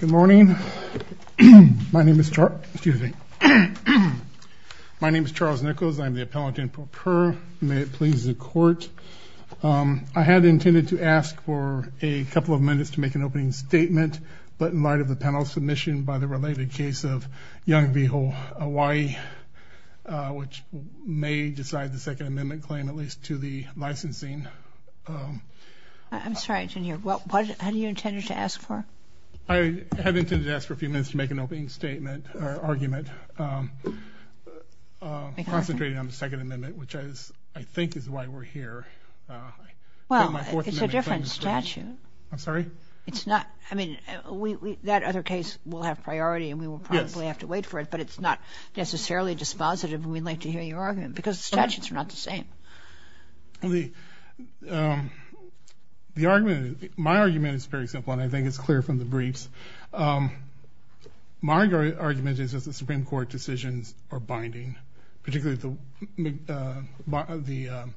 Good morning. My name is Charles Nichols. I'm the Appellant in Pro Per. May it please the Court. I had intended to ask for a couple of minutes to make an opening statement, but in light of the panel's submission by the related case of Young Vigil, Hawaii, which may decide the Second Amendment claim, at least to the licensing. I'm sorry, how do you intend to ask for? I have intended to ask for a few minutes to make an opening statement or argument concentrating on the Second Amendment, which I think is why we're here. Well, it's a different statute. I'm sorry? It's not. I mean, that other case will have priority and we will probably have to wait for it, but it's not necessarily dispositive and we'd like to hear your argument because the statutes are not the same. My argument is very simple and I think it's clear from the briefs. My argument is that the Supreme Court decisions are binding, particularly the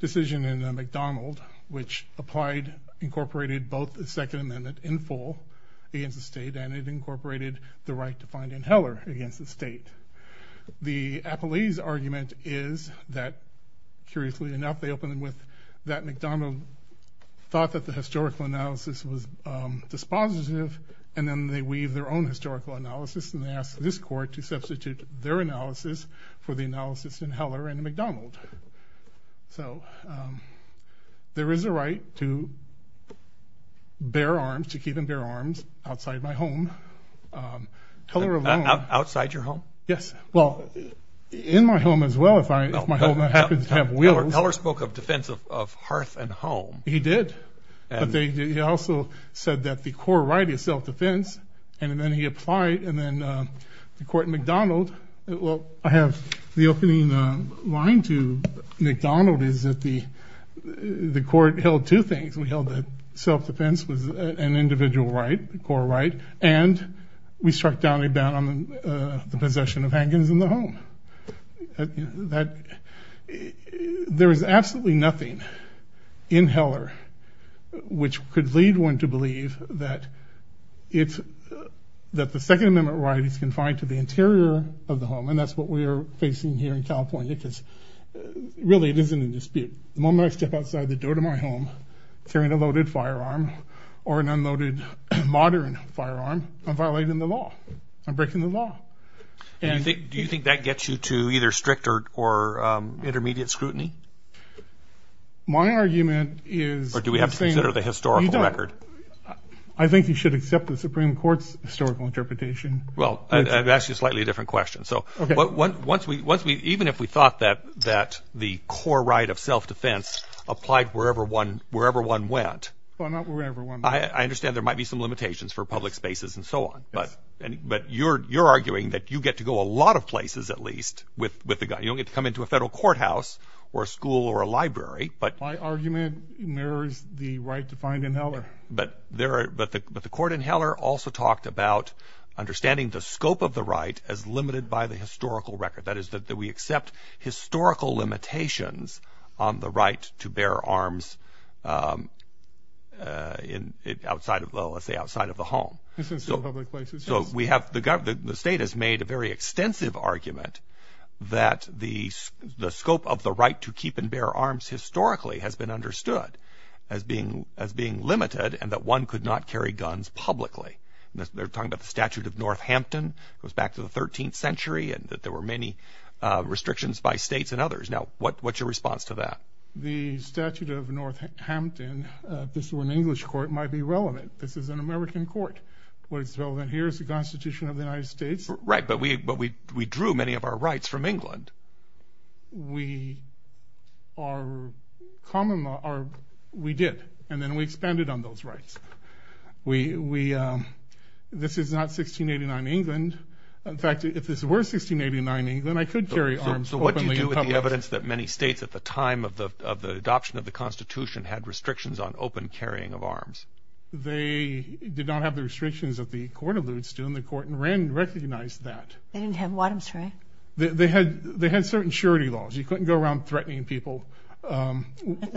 decision in McDonald, which incorporated both the Second Amendment in full against the state and it incorporated the right to find in Heller against the state. The appellee's argument is that, curiously enough, they opened with that McDonald thought that the historical analysis was dispositive and then they weave their own historical analysis and they ask this court to substitute their analysis for the analysis in Heller and McDonald. So there is a right to bear arms, to keep and bear arms outside my home. Outside your home? Yes. Well, in my home as well if my home happens to have wheels. Heller spoke of defense of hearth and home. He did. He also said that the core right is self-defense and then he applied and then the court in McDonald, well, I have the opening line to McDonald is that the court held two things. We held that self-defense was an individual right, a core right, and we struck down a ban on the possession of handguns in the home. There is absolutely nothing in Heller which could lead one to believe that the Second Amendment right is confined to the interior of the home and that's what we are facing here in California because really it isn't in dispute. The moment I step outside the door to my home carrying a loaded firearm or an unloaded modern firearm, I'm violating the law. I'm breaking the law. Do you think that gets you to either strict or intermediate scrutiny? My argument is… Or do we have to consider the historical record? I think you should accept the Supreme Court's historical interpretation. Well, I've asked you a slightly different question. Even if we thought that the core right of self-defense applied wherever one went… Well, not wherever one went. I understand there might be some limitations for public spaces and so on, but you're arguing that you get to go a lot of places at least with a gun. You don't get to come into a federal courthouse or a school or a library. My argument mirrors the right defined in Heller. But the court in Heller also talked about understanding the scope of the right as limited by the historical record, that is that we accept historical limitations on the right to bear arms outside of the home. So the state has made a very extensive argument that the scope of the right to keep and bear arms historically has been understood as being limited and that one could not carry guns publicly. They're talking about the statute of Northampton. It goes back to the 13th century and that there were many restrictions by states and others. Now, what's your response to that? The statute of Northampton, if this were an English court, might be relevant. This is an American court. What is relevant here is the Constitution of the United States. Right, but we drew many of our rights from England. We did, and then we expanded on those rights. This is not 1689 England. In fact, if this were 1689 England, I could carry arms openly. So what do you do with the evidence that many states at the time of the adoption of the Constitution had restrictions on open carrying of arms? They did not have the restrictions that the court alludes to, and the court in Wren recognized that. They didn't have what, I'm sorry? They had certain surety laws. You couldn't go around threatening people. You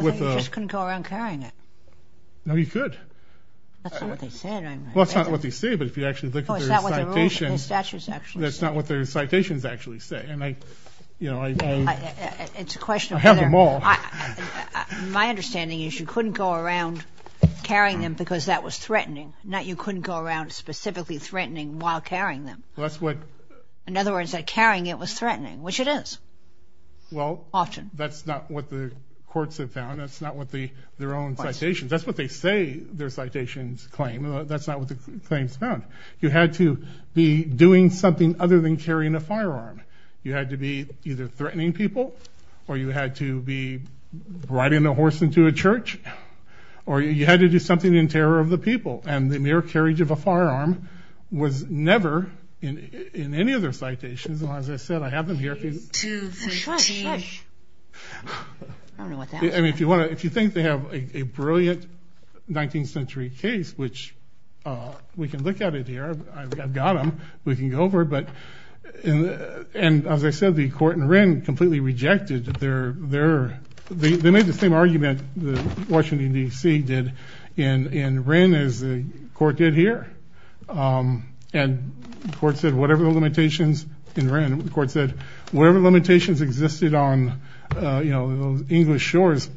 just couldn't go around carrying it. No, you could. That's not what they said. Well, it's not what they say, but if you actually look at their citations, that's not what their citations actually say. I have them all. My understanding is you couldn't go around carrying them because that was threatening, not you couldn't go around specifically threatening while carrying them. In other words, carrying it was threatening, which it is often. That's not what the courts have found. That's not what their own citations. That's what they say their citations claim. That's not what the claims found. You had to be doing something other than carrying a firearm. You had to be either threatening people or you had to be riding a horse into a church or you had to do something in terror of the people, and the mere carriage of a firearm was never in any of their citations. As I said, I have them here. If you think they have a brilliant 19th century case, which we can look at it here. I've got them. We can go over it. And as I said, the court in Wren completely rejected their ‑‑ they made the same argument that Washington, D.C. did in Wren as the court did here. And the court said whatever the limitations in Wren, the court said whatever limitations existed on English shores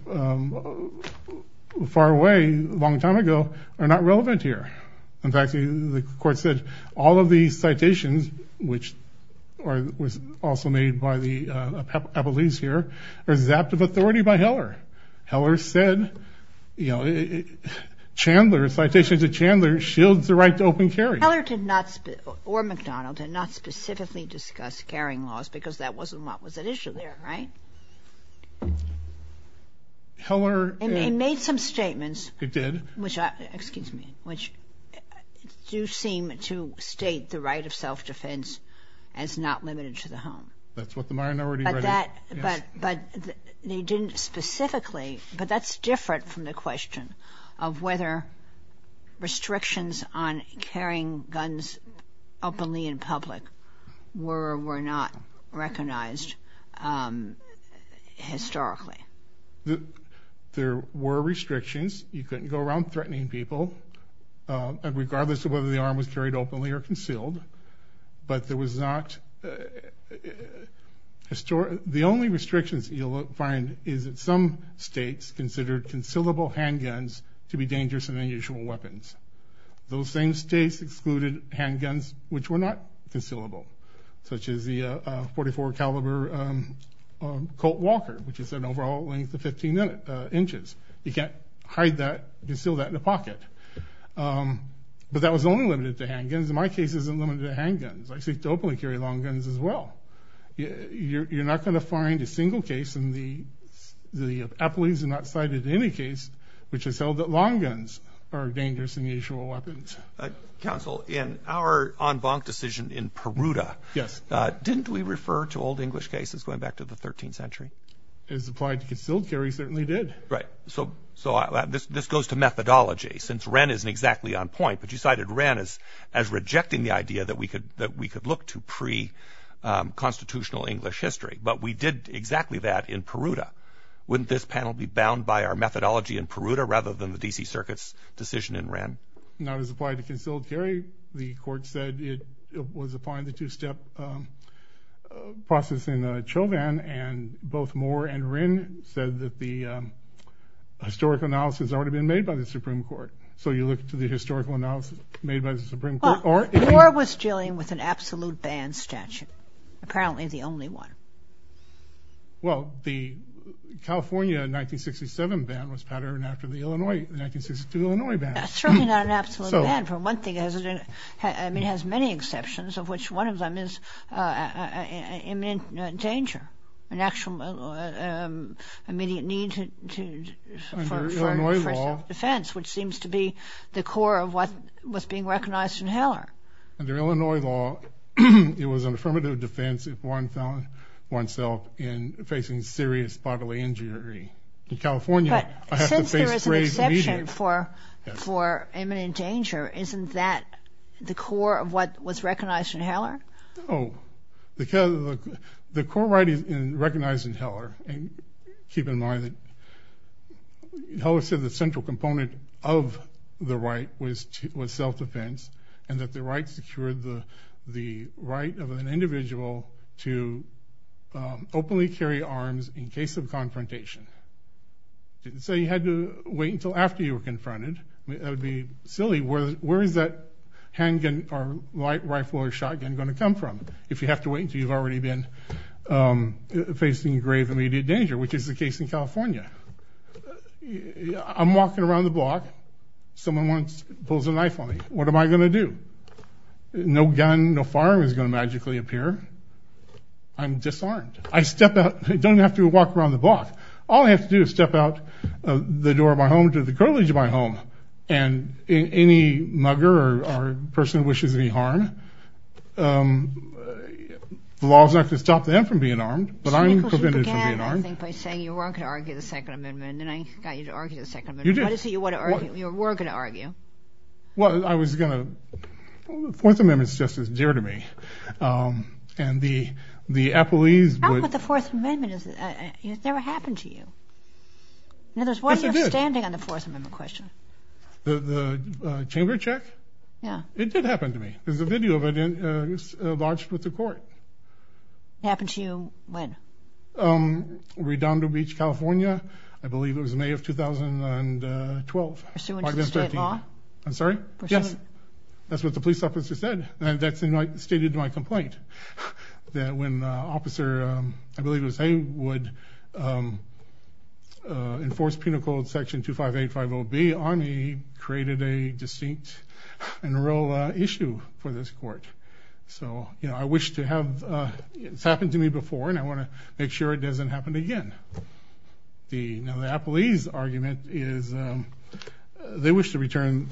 far away a long time ago are not relevant here. In fact, the court said all of these citations, which was also made by the appellees here, are zapped of authority by Heller. Heller said, you know, Chandler, citations of Chandler, shields the right to open carry. Heller did not, or MacDonald, did not specifically discuss carrying laws because that wasn't what was at issue there, right? Heller ‑‑ It made some statements. It did. Excuse me. Which do seem to state the right of self-defense as not limited to the home. That's what the minority right is. But they didn't specifically. But that's different from the question of whether restrictions on carrying guns openly in public were or were not recognized historically. There were restrictions. You couldn't go around threatening people, regardless of whether the arm was carried openly or concealed. But there was not ‑‑ the only restrictions that you'll find is that some states considered concealable handguns to be dangerous and unusual weapons. Those same states excluded handguns which were not concealable, such as the .44 caliber Colt Walker, which is an overall length of 15 inches. You can't hide that, conceal that in a pocket. But that was only limited to handguns. My case isn't limited to handguns. I seek to openly carry long guns as well. You're not going to find a single case in the appellees are not cited in any case which has held that long guns are dangerous and unusual weapons. Counsel, in our en banc decision in Peruta, didn't we refer to old English cases going back to the 13th century? As applied to concealed carry, certainly did. Right. So this goes to methodology, since Wren isn't exactly on point, but you cited Wren as rejecting the idea that we could look to preconstitutional English history. But we did exactly that in Peruta. Wouldn't this panel be bound by our methodology in Peruta rather than the D.C. Circuit's decision in Wren? Not as applied to concealed carry. The court said it was applying the two‑step process in Chauvin, and both Moore and Wren said that the historical analysis had already been made by the Supreme Court. So you look to the historical analysis made by the Supreme Court? Moore was dealing with an absolute ban statute, apparently the only one. Well, the California 1967 ban was patterned after the Illinois 1962 ban. That's certainly not an absolute ban. For one thing, it has many exceptions, of which one of them is imminent danger, an actual immediate need for self‑defense, which seems to be the core of what was being recognized in Heller. Under Illinois law, it was an affirmative defense if one found oneself facing serious bodily injury. But since there is an exception for imminent danger, isn't that the core of what was recognized in Heller? Oh, the core right is in recognizing Heller, and keep in mind that Heller said the central component of the right was self‑defense and that the right secured the right of an individual to openly carry arms in case of confrontation. It didn't say you had to wait until after you were confronted. That would be silly. Where is that handgun or rifle or shotgun going to come from? If you have to wait until you've already been facing grave immediate danger, which is the case in California. I'm walking around the block. Someone pulls a knife on me. What am I going to do? No gun, no firearm is going to magically appear. I'm disarmed. I step out. I don't even have to walk around the block. All I have to do is step out the door of my home to the curtilage of my home, and any mugger or person who wishes any harm, the law is not going to stop them from being armed, but I'm prevented from being armed. You began, I think, by saying you weren't going to argue the Second Amendment, and then I got you to argue the Second Amendment. You did. Why did you say you weren't going to argue? Well, I was going to. The Fourth Amendment is just as dear to me. How about the Fourth Amendment? It never happened to you. In other words, why are you standing on the Fourth Amendment question? The chamber check? Yeah. It did happen to me. There's a video of it lodged with the court. It happened to you when? Redondo Beach, California. I believe it was May of 2012. Pursuant to the state law? I'm sorry? Yes. That's what the police officer said. That's stated in my complaint, that when Officer, I believe it was Haywood, enforced Penal Code Section 25850B on me, created a distinct and real issue for this court. So, you know, I wish to have it. It's happened to me before, and I want to make sure it doesn't happen again. Now the Appalese argument is they wish to return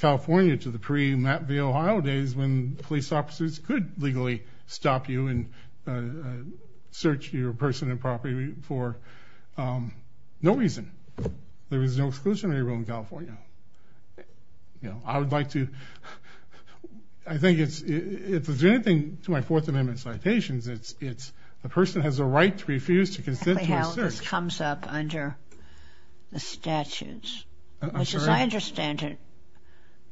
California to the pre-Map V. Ohio days when police officers could legally stop you and search your personal property for no reason. There was no exclusionary rule in California. You know, I would like to, I think if there's anything to my Fourth Amendment citations, it's a person has a right to refuse to consent to a search. That's how this comes up under the statutes, which as I understand it,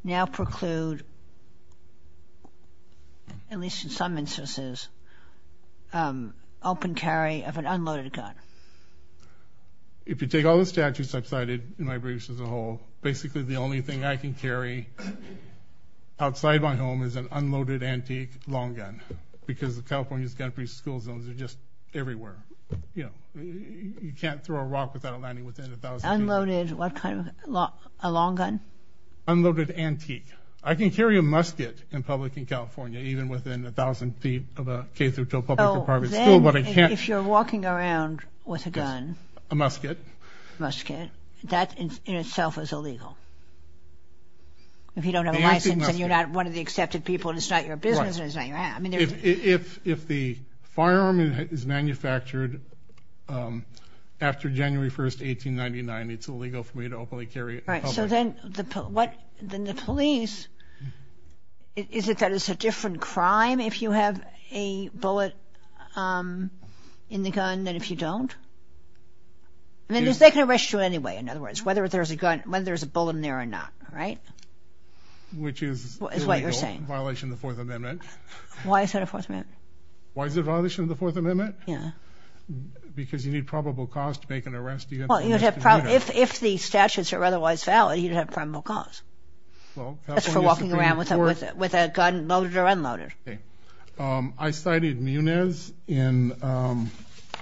now preclude, at least in some instances, open carry of an unloaded gun. If you take all the statutes I've cited in my briefs as a whole, basically the only thing I can carry outside my home is an unloaded antique long gun because California's gun-free school zones are just everywhere. You know, you can't throw a rock without it landing within 1,000 feet. Unloaded what kind of, a long gun? Unloaded antique. I can carry a musket in public in California even within 1,000 feet of a K through 12 public or private school, but I can't. If you're walking around with a gun. A musket. A musket. That in itself is illegal. If you don't have a license and you're not one of the accepted people and it's not your business. If the firearm is manufactured after January 1, 1899, it's illegal for me to openly carry it in public. So then the police, is it that it's a different crime if you have a bullet in the gun than if you don't? I mean, there's that kind of ratio anyway, in other words, whether there's a bullet in there or not, right? Which is illegal. That's a violation of the Fourth Amendment. Why is that a Fourth Amendment? Why is it a violation of the Fourth Amendment? Yeah. Because you need probable cause to make an arrest. Well, if the statutes are otherwise valid, you'd have probable cause. That's for walking around with a gun loaded or unloaded. Okay. I cited Muniz in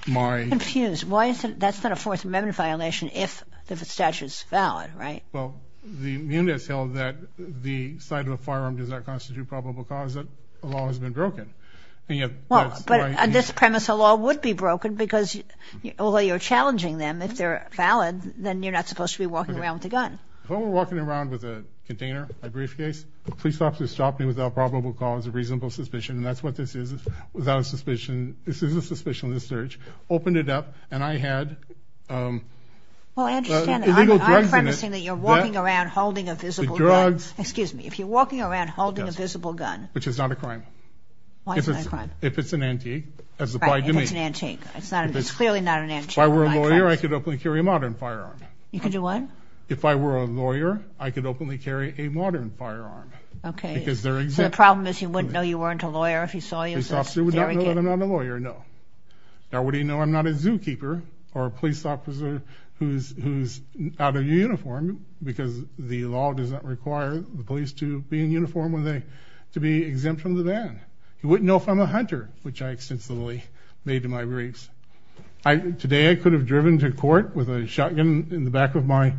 my. I'm confused. That's not a Fourth Amendment violation if the statute's valid, right? Well, the Muniz held that the sight of a firearm does not constitute probable cause. That law has been broken. But on this premise, a law would be broken, because although you're challenging them, if they're valid, then you're not supposed to be walking around with a gun. If I were walking around with a container, a briefcase, the police officer stopped me without probable cause of reasonable suspicion. That's what this is. Without a suspicion, this is a suspicion on the search. Opened it up, and I had illegal drugs in it. You're walking around holding a visible gun. The drugs. Excuse me. If you're walking around holding a visible gun. Which is not a crime. Why is it not a crime? If it's an antique, as applied to me. Right, if it's an antique. It's clearly not an antique. If I were a lawyer, I could openly carry a modern firearm. You could do what? If I were a lawyer, I could openly carry a modern firearm. Okay. So the problem is you wouldn't know you weren't a lawyer if he saw you. The officer would not know that I'm not a lawyer, no. Now, what do you know? You wouldn't know if I'm not a zookeeper or a police officer who's out of uniform because the law does not require the police to be in uniform to be exempt from the ban. You wouldn't know if I'm a hunter, which I extensively made to my grades. Today I could have driven to court with a shotgun in the back of my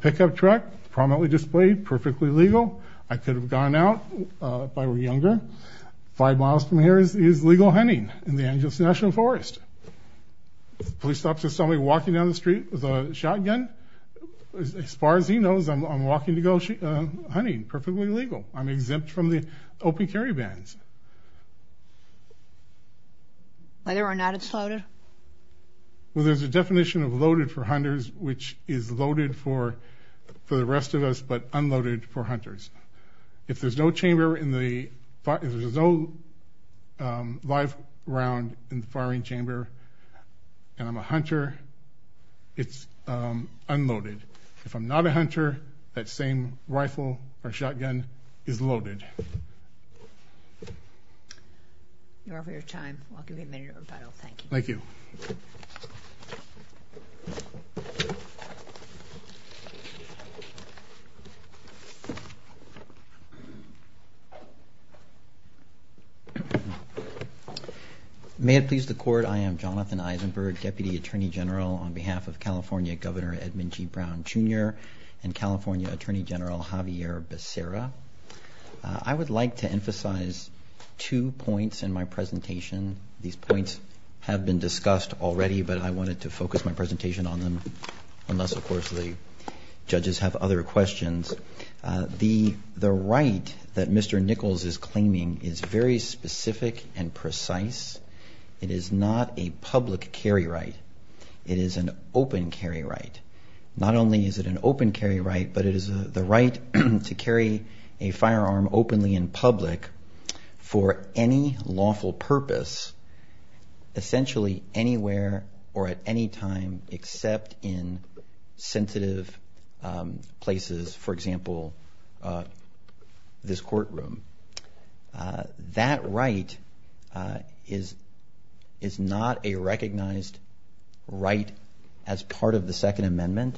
pickup truck, prominently displayed, perfectly legal. I could have gone out if I were younger. Five miles from here is legal hunting in the Angeles National Forest. If a police officer saw me walking down the street with a shotgun, as far as he knows, I'm walking to go hunting, perfectly legal. I'm exempt from the open carry bans. Whether or not it's loaded? Well, there's a definition of loaded for hunters, which is loaded for the rest of us, but unloaded for hunters. If there's no live round in the firing chamber and I'm a hunter, it's unloaded. If I'm not a hunter, that same rifle or shotgun is loaded. You're over your time. I'll give you a minute of your time. Thank you. Thank you. Thank you. May it please the Court, I am Jonathan Eisenberg, Deputy Attorney General on behalf of California Governor Edmund G. Brown, Jr., and California Attorney General Javier Becerra. I would like to emphasize two points in my presentation. These points have been discussed already, but I wanted to focus my presentation on them, unless, of course, the judges have other questions. The right that Mr. Nichols is claiming is very specific and precise. It is not a public carry right. It is an open carry right. Not only is it an open carry right, but it is the right to carry a firearm openly in public for any lawful purpose, essentially anywhere or at any time except in sensitive places, for example, this courtroom. That right is not a recognized right as part of the Second Amendment.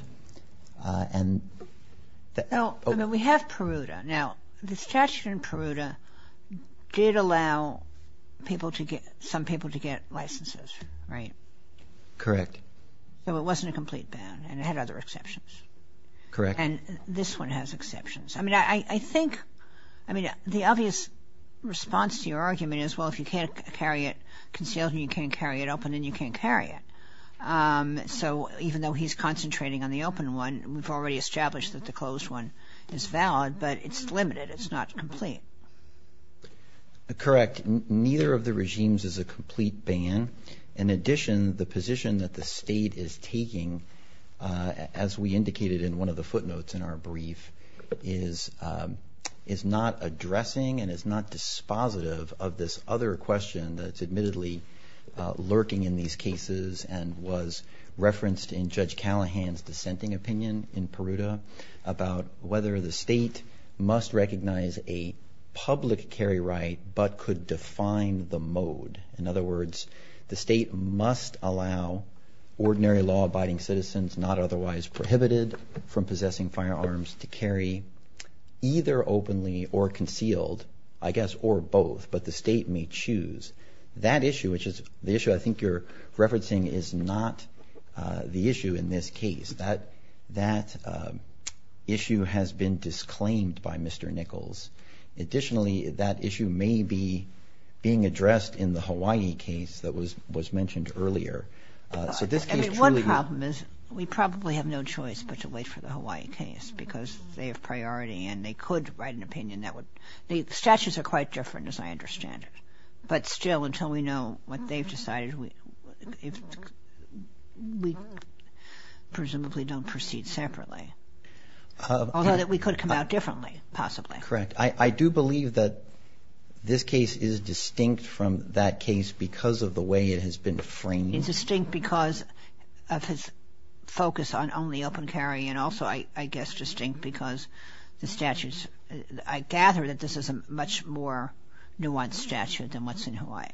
We have Peruta. Now, the statute in Peruta did allow some people to get licenses, right? Correct. So it wasn't a complete ban, and it had other exceptions. Correct. And this one has exceptions. I mean, I think the obvious response to your argument is, well, if you can't carry it concealed and you can't carry it open, then you can't carry it. So even though he's concentrating on the open one, we've already established that the closed one is valid, but it's limited. It's not complete. Correct. Neither of the regimes is a complete ban. In addition, the position that the state is taking, as we indicated in one of the footnotes in our brief, is not addressing and is not dispositive of this other question that's admittedly lurking in these cases and was referenced in Judge Callahan's dissenting opinion in Peruta about whether the state must recognize a public carry right but could define the mode. In other words, the state must allow ordinary law-abiding citizens, not otherwise prohibited from possessing firearms, to carry either openly or concealed, I guess, or both, but the state may choose. That issue, which is the issue I think you're referencing, is not the issue in this case. That issue has been disclaimed by Mr. Nichols. Additionally, that issue may be being addressed in the Hawaii case that was mentioned earlier. So this case truly— I mean, one problem is we probably have no choice but to wait for the Hawaii case because they have priority and they could write an opinion that would— Statutes are quite different, as I understand it. But still, until we know what they've decided, we presumably don't proceed separately. Although we could come out differently, possibly. Correct. I do believe that this case is distinct from that case because of the way it has been framed. It's distinct because of his focus on only open carry and also, I guess, distinct because the statutes— much more nuanced statute than what's in Hawaii.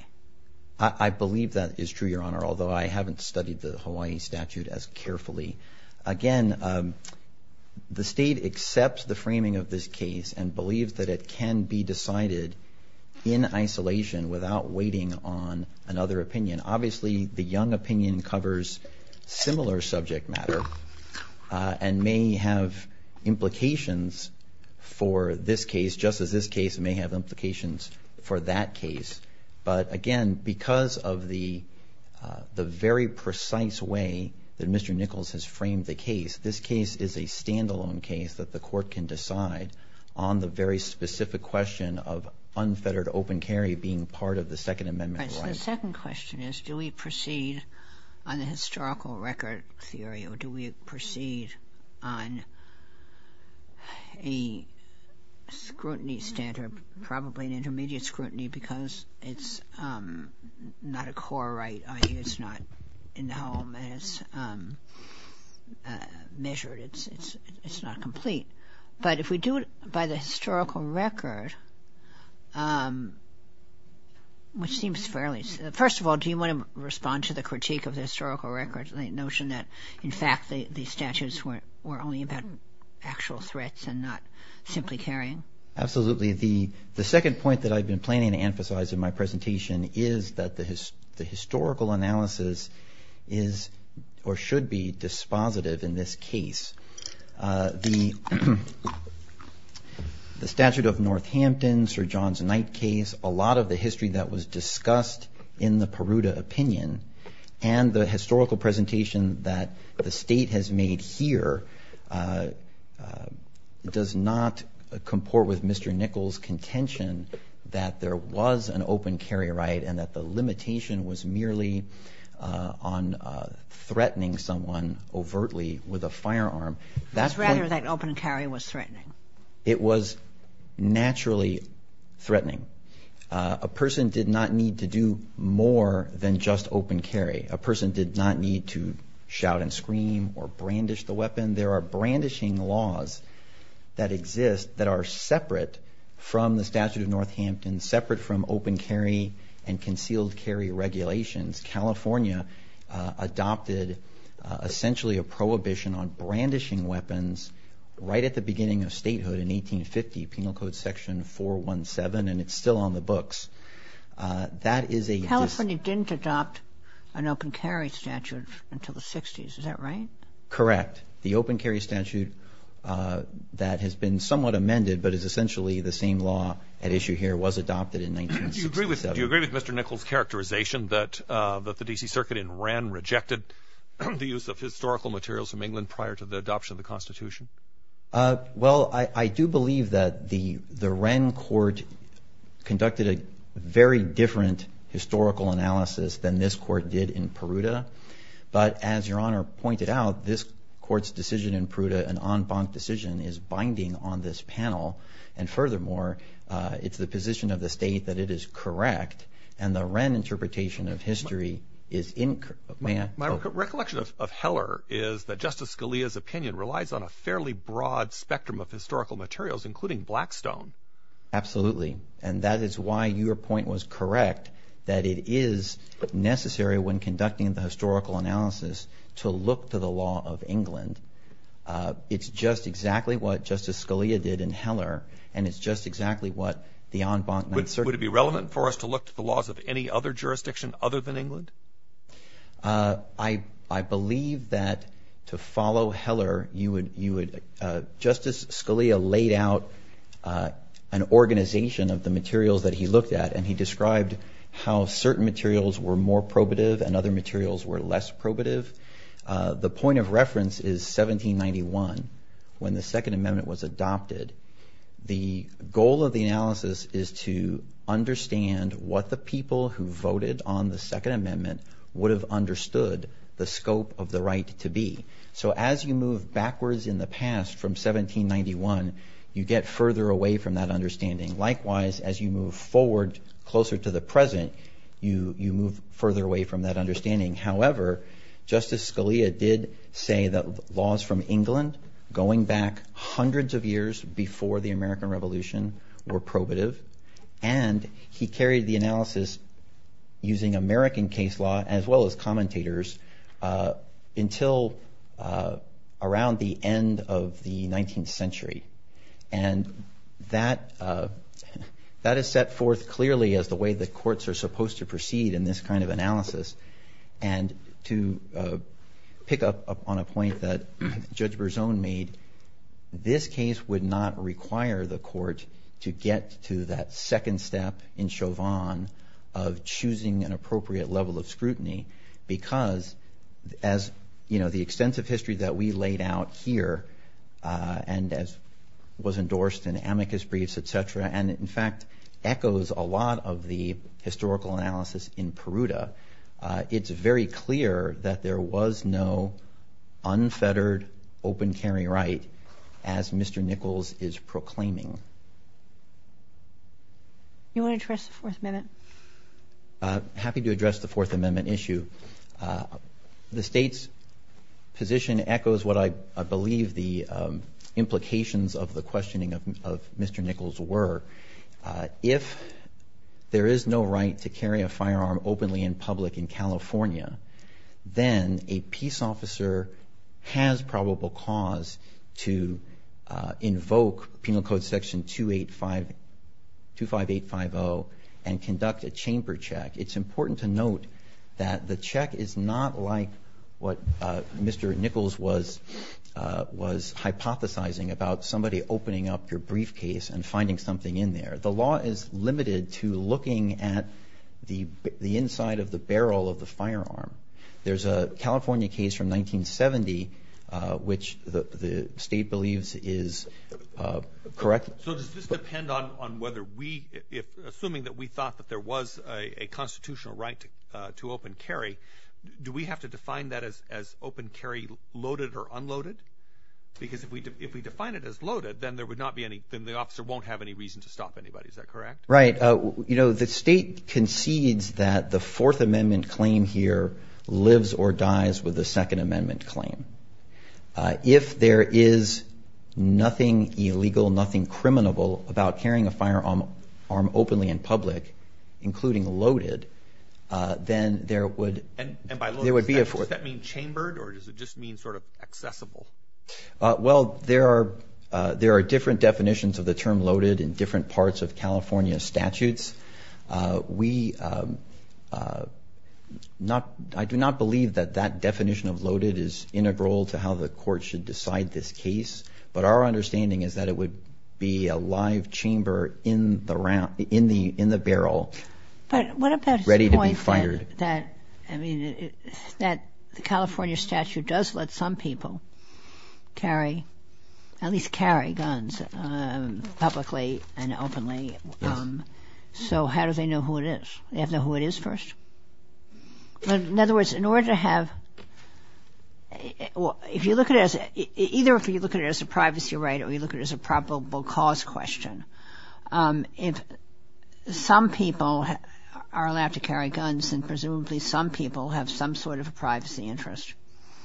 I believe that is true, Your Honor, although I haven't studied the Hawaii statute as carefully. Again, the state accepts the framing of this case and believes that it can be decided in isolation without waiting on another opinion. Obviously, the young opinion covers similar subject matter and may have implications for this case just as this case may have implications for that case. But again, because of the very precise way that Mr. Nichols has framed the case, this case is a standalone case that the court can decide on the very specific question of unfettered open carry being part of the Second Amendment. The second question is, do we proceed on the historical record theory or do we proceed on a scrutiny standard, probably an intermediate scrutiny because it's not a core right. It's not in the home and it's measured. It's not complete. But if we do it by the historical record, which seems fairly— first of all, do you want to respond to the critique of the historical record and the notion that, in fact, the statutes were only about actual threats and not simply carrying? Absolutely. The second point that I've been planning to emphasize in my presentation is that the historical analysis is or should be dispositive in this case. The statute of Northampton, Sir John's Night case, a lot of the history that was discussed in the Peruta opinion and the historical presentation that the state has made here does not comport with Mr. Nichols' contention that there was an open carry right and that the limitation was merely on threatening someone overtly with a firearm. It was rather that open carry was threatening. It was naturally threatening. A person did not need to do more than just open carry. A person did not need to shout and scream or brandish the weapon. There are brandishing laws that exist that are separate from the statute of Northampton, separate from open carry and concealed carry regulations. California adopted essentially a prohibition on brandishing weapons right at the beginning of statehood in 1850, Penal Code Section 417, and it's still on the books. California didn't adopt an open carry statute until the 60s. Is that right? Correct. The open carry statute that has been somewhat amended but is essentially the same law at issue here was adopted in 1967. Do you agree with Mr. Nichols' characterization that the D.C. Circuit in Wren rejected the use of historical materials from England prior to the adoption of the Constitution? Well, I do believe that the Wren court conducted a very different historical analysis than this court did in Peruta. But as Your Honor pointed out, this court's decision in Peruta, an en banc decision, is binding on this panel, and furthermore, it's the position of the state that it is correct, and the Wren interpretation of history is incorrect. My recollection of Heller is that Justice Scalia's opinion relies on a fairly broad spectrum of historical materials, including blackstone. Absolutely, and that is why your point was correct, that it is necessary when conducting the historical analysis to look to the law of England. It's just exactly what Justice Scalia did in Heller, and it's just exactly what the en banc not certain. Would it be relevant for us to look to the laws of any other jurisdiction other than England? I believe that to follow Heller, Justice Scalia laid out an organization of the materials that he looked at, and he described how certain materials were more probative and other materials were less probative. The point of reference is 1791, when the Second Amendment was adopted. The goal of the analysis is to understand what the people who voted on the Second Amendment would have understood the scope of the right to be. So as you move backwards in the past from 1791, you get further away from that understanding. Likewise, as you move forward closer to the present, you move further away from that understanding. However, Justice Scalia did say that laws from England going back hundreds of years before the American Revolution were probative, and he carried the analysis using American case law as well as commentators until around the end of the 19th century. And that is set forth clearly as the way the courts are supposed to proceed in this kind of analysis. And to pick up on a point that Judge Berzon made, this case would not require the court to get to that second step in Chauvin of choosing an appropriate level of scrutiny because as, you know, the extensive history that we laid out here and as was endorsed in amicus briefs, et cetera, and in fact echoes a lot of the historical analysis in Peruta, it's very clear that there was no unfettered open carry right as Mr. Nichols is proclaiming. You want to address the Fourth Amendment? I'm happy to address the Fourth Amendment issue. The state's position echoes what I believe the implications of the questioning of Mr. Nichols were. If there is no right to carry a firearm openly in public in California, then a peace officer has probable cause to invoke Penal Code Section 25850 and conduct a chamber check. It's important to note that the check is not like what Mr. Nichols was hypothesizing about somebody opening up your briefcase and finding something in there. The law is limited to looking at the inside of the barrel of the firearm. There's a California case from 1970 which the state believes is correct. So does this depend on whether we, assuming that we thought that there was a constitutional right to open carry, do we have to define that as open carry loaded or unloaded? Because if we define it as loaded, then there would not be any, then the officer won't have any reason to stop anybody. Is that correct? Right. You know, the state concedes that the Fourth Amendment claim here lives or dies with the Second Amendment claim. If there is nothing illegal, nothing criminal about carrying a firearm openly in public, including loaded, then there would be a force. And by loaded, does that mean chambered or does it just mean sort of accessible? Well, there are different definitions of the term loaded in different parts of California statutes. We not, I do not believe that that definition of loaded is integral to how the court should decide this case. But our understanding is that it would be a live chamber in the barrel ready to be fired. But what about his point that, I mean, that the California statute does let some people carry, at least carry guns publicly and openly. Yes. So how do they know who it is? They have to know who it is first? In other words, in order to have, if you look at it as, either if you look at it as a privacy right or you look at it as a probable cause question, if some people are allowed to carry guns, then presumably some people have some sort of a privacy interest.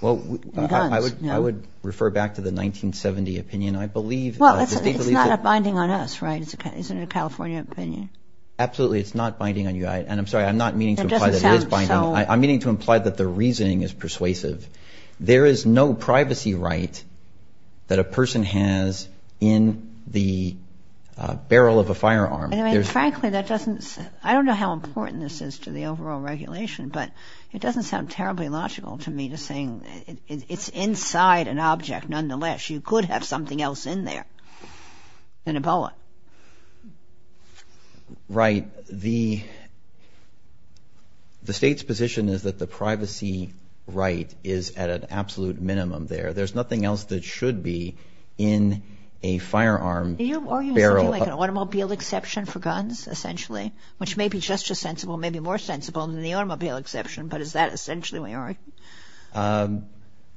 Well, I would refer back to the 1970 opinion. I believe. Well, it's not a binding on us, right? It's a California opinion. Absolutely, it's not binding on you. And I'm sorry, I'm not meaning to imply that it is binding. I'm meaning to imply that the reasoning is persuasive. There is no privacy right that a person has in the barrel of a firearm. Frankly, that doesn't, I don't know how important this is to the overall regulation, but it doesn't sound terribly logical to me just saying it's inside an object nonetheless. You could have something else in there, an Ebola. Right. The state's position is that the privacy right is at an absolute minimum there. There's nothing else that should be in a firearm barrel. Are you arguing something like an automobile exception for guns, essentially, which may be just as sensible, may be more sensible than the automobile exception, but is that essentially what you're arguing?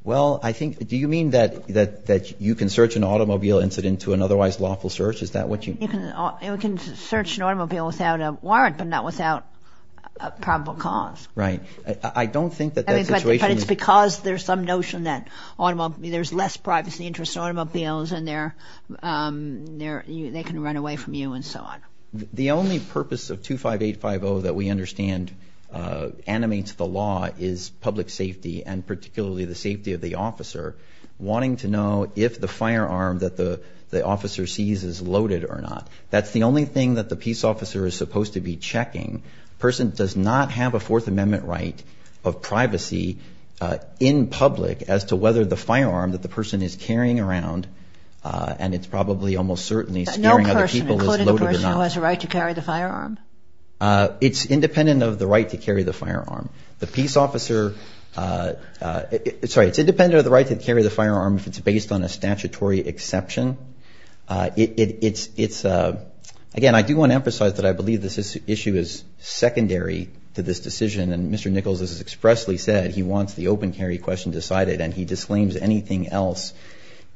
Well, I think, do you mean that you can search an automobile incident to an otherwise lawful search? Is that what you mean? You can search an automobile without a warrant, but not without a probable cause. Right. I don't think that that situation. But it's because there's some notion that there's less privacy interest in automobiles and they can run away from you and so on. The only purpose of 25850 that we understand animates the law is public safety and particularly the safety of the officer, wanting to know if the firearm that the officer sees is loaded or not. That's the only thing that the peace officer is supposed to be checking. A person does not have a Fourth Amendment right of privacy in public as to whether the firearm that the person is carrying around, and it's probably almost certainly scaring other people, is loaded or not. No person, including the person who has a right to carry the firearm? It's independent of the right to carry the firearm. The peace officer, sorry, it's independent of the right to carry the firearm if it's based on a statutory exception. It's, again, I do want to emphasize that I believe this issue is secondary to this decision, and Mr. Nichols has expressly said he wants the open carry question decided and he disclaims anything else.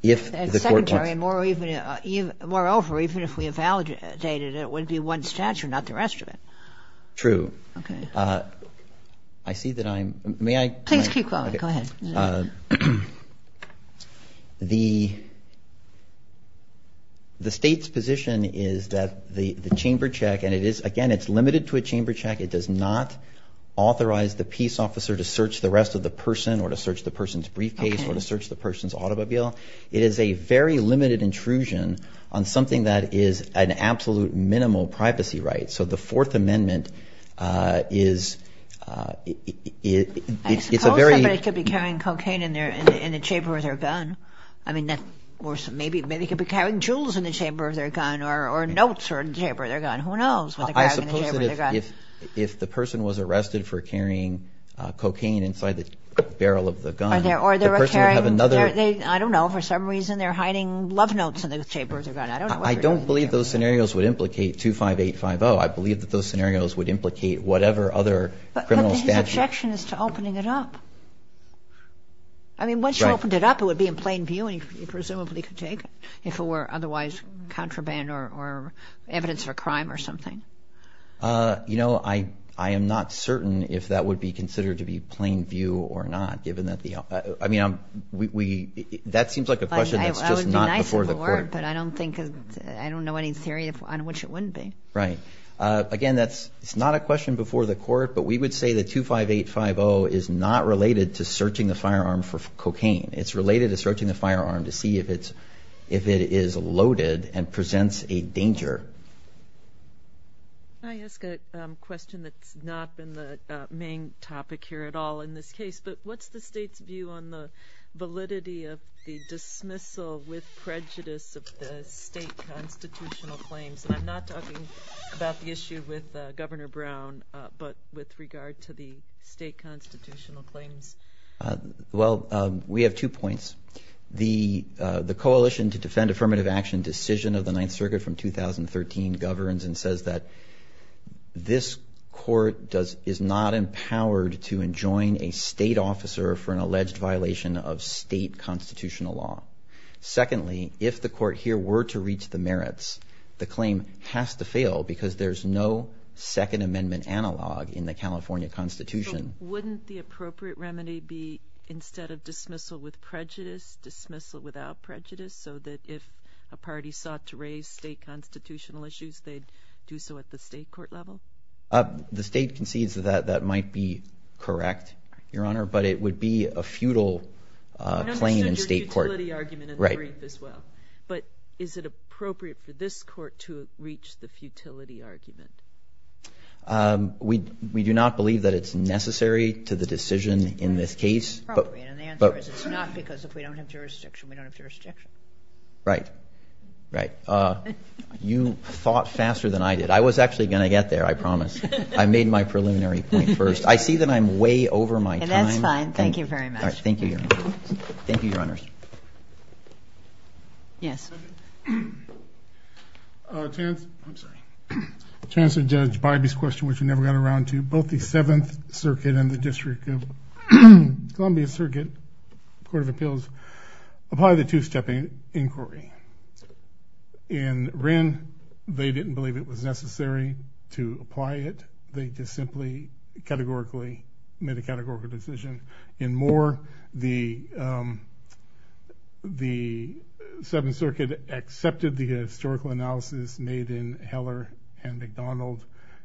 It's secondary. Moreover, even if we evaluated it, it would be one statute, not the rest of it. True. Okay. I see that I'm, may I? Please keep going. Go ahead. The state's position is that the chamber check, and it is, again, it's limited to a chamber check. It does not authorize the peace officer to search the rest of the person or to search the person's briefcase or to search the person's automobile. It is a very limited intrusion on something that is an absolute minimal privacy right. So the Fourth Amendment is a very— I suppose somebody could be carrying cocaine in the chamber of their gun. I mean, maybe they could be carrying jewels in the chamber of their gun or notes in the chamber of their gun. Who knows? I suppose that if the person was arrested for carrying cocaine inside the barrel of the gun, the person would have another— I don't know. For some reason, they're hiding love notes in the chamber of their gun. I don't know. I don't believe those scenarios would implicate 25850. I believe that those scenarios would implicate whatever other criminal statute— But his objection is to opening it up. I mean, once you opened it up, it would be in plain view and you presumably could take it if it were otherwise contraband or evidence of a crime or something. You know, I am not certain if that would be considered to be plain view or not, given that the—I mean, that seems like a question that's just not before the court. I would be nice if it were, but I don't think—I don't know any theory on which it wouldn't be. Right. Again, that's not a question before the court, but we would say that 25850 is not related to searching the firearm for cocaine. It's related to searching the firearm to see if it is loaded and presents a danger. Can I ask a question that's not been the main topic here at all in this case? But what's the state's view on the validity of the dismissal with prejudice of the state constitutional claims? And I'm not talking about the issue with Governor Brown, but with regard to the state constitutional claims. Well, we have two points. The Coalition to Defend Affirmative Action decision of the Ninth Circuit from 2013 governs and says that this court is not empowered to enjoin a state officer for an alleged violation of state constitutional law. Secondly, if the court here were to reach the merits, the claim has to fail because there's no Second Amendment analog in the California Constitution. So wouldn't the appropriate remedy be instead of dismissal with prejudice, dismissal without prejudice so that if a party sought to raise state constitutional issues, they'd do so at the state court level? The state concedes that that might be correct, Your Honor, but it would be a futile claim in state court. I understand your futility argument in the brief as well, but is it appropriate for this court to reach the futility argument? We do not believe that it's necessary to the decision in this case. The answer is it's not because if we don't have jurisdiction, we don't have jurisdiction. Right. Right. You thought faster than I did. I was actually going to get there, I promise. I made my preliminary point first. I see that I'm way over my time. That's fine. Thank you very much. Thank you, Your Honor. Thank you, Your Honors. Yes. Second. Chancellor Judge Bybee's question, which we never got around to, both the Seventh Circuit and the District of Columbia Circuit Court of Appeals apply the two-step inquiry. In Wren, they didn't believe it was necessary to apply it. They just simply categorically made a categorical decision. In Moore, the Seventh Circuit accepted the historical analysis made in Heller and McDonald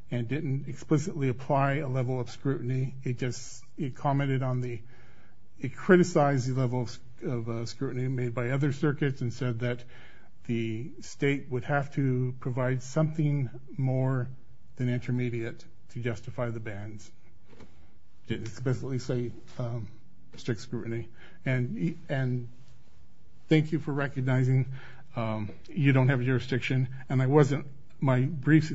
and didn't explicitly apply a level of scrutiny. It just commented on the ñ it criticized the level of scrutiny made by other circuits and said that the state would have to provide something more than intermediate to justify the bans. It didn't explicitly say strict scrutiny. Thank you for recognizing you don't have jurisdiction. My reply brief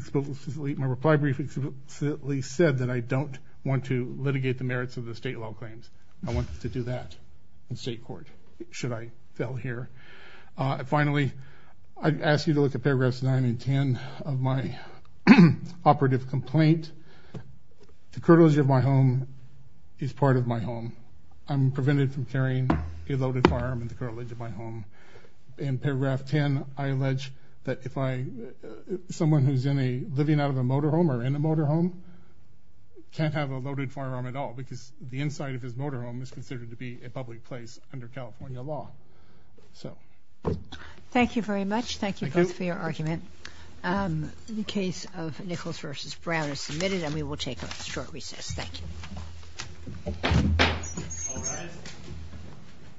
explicitly said that I don't want to litigate the merits of the state law claims. I wanted to do that in state court, should I fail here. Finally, I'd ask you to look at paragraphs 9 and 10 of my operative complaint. The cartilage of my home is part of my home. I'm prevented from carrying a loaded firearm in the cartilage of my home. In paragraph 10, I allege that if I ñ someone who's living out of a motorhome or in a motorhome can't have a loaded firearm at all because the inside of his motorhome is considered to be a public place under California law. Thank you very much. Thank you both for your argument. The case of Nichols v. Brown is submitted and we will take a short recess. Thank you.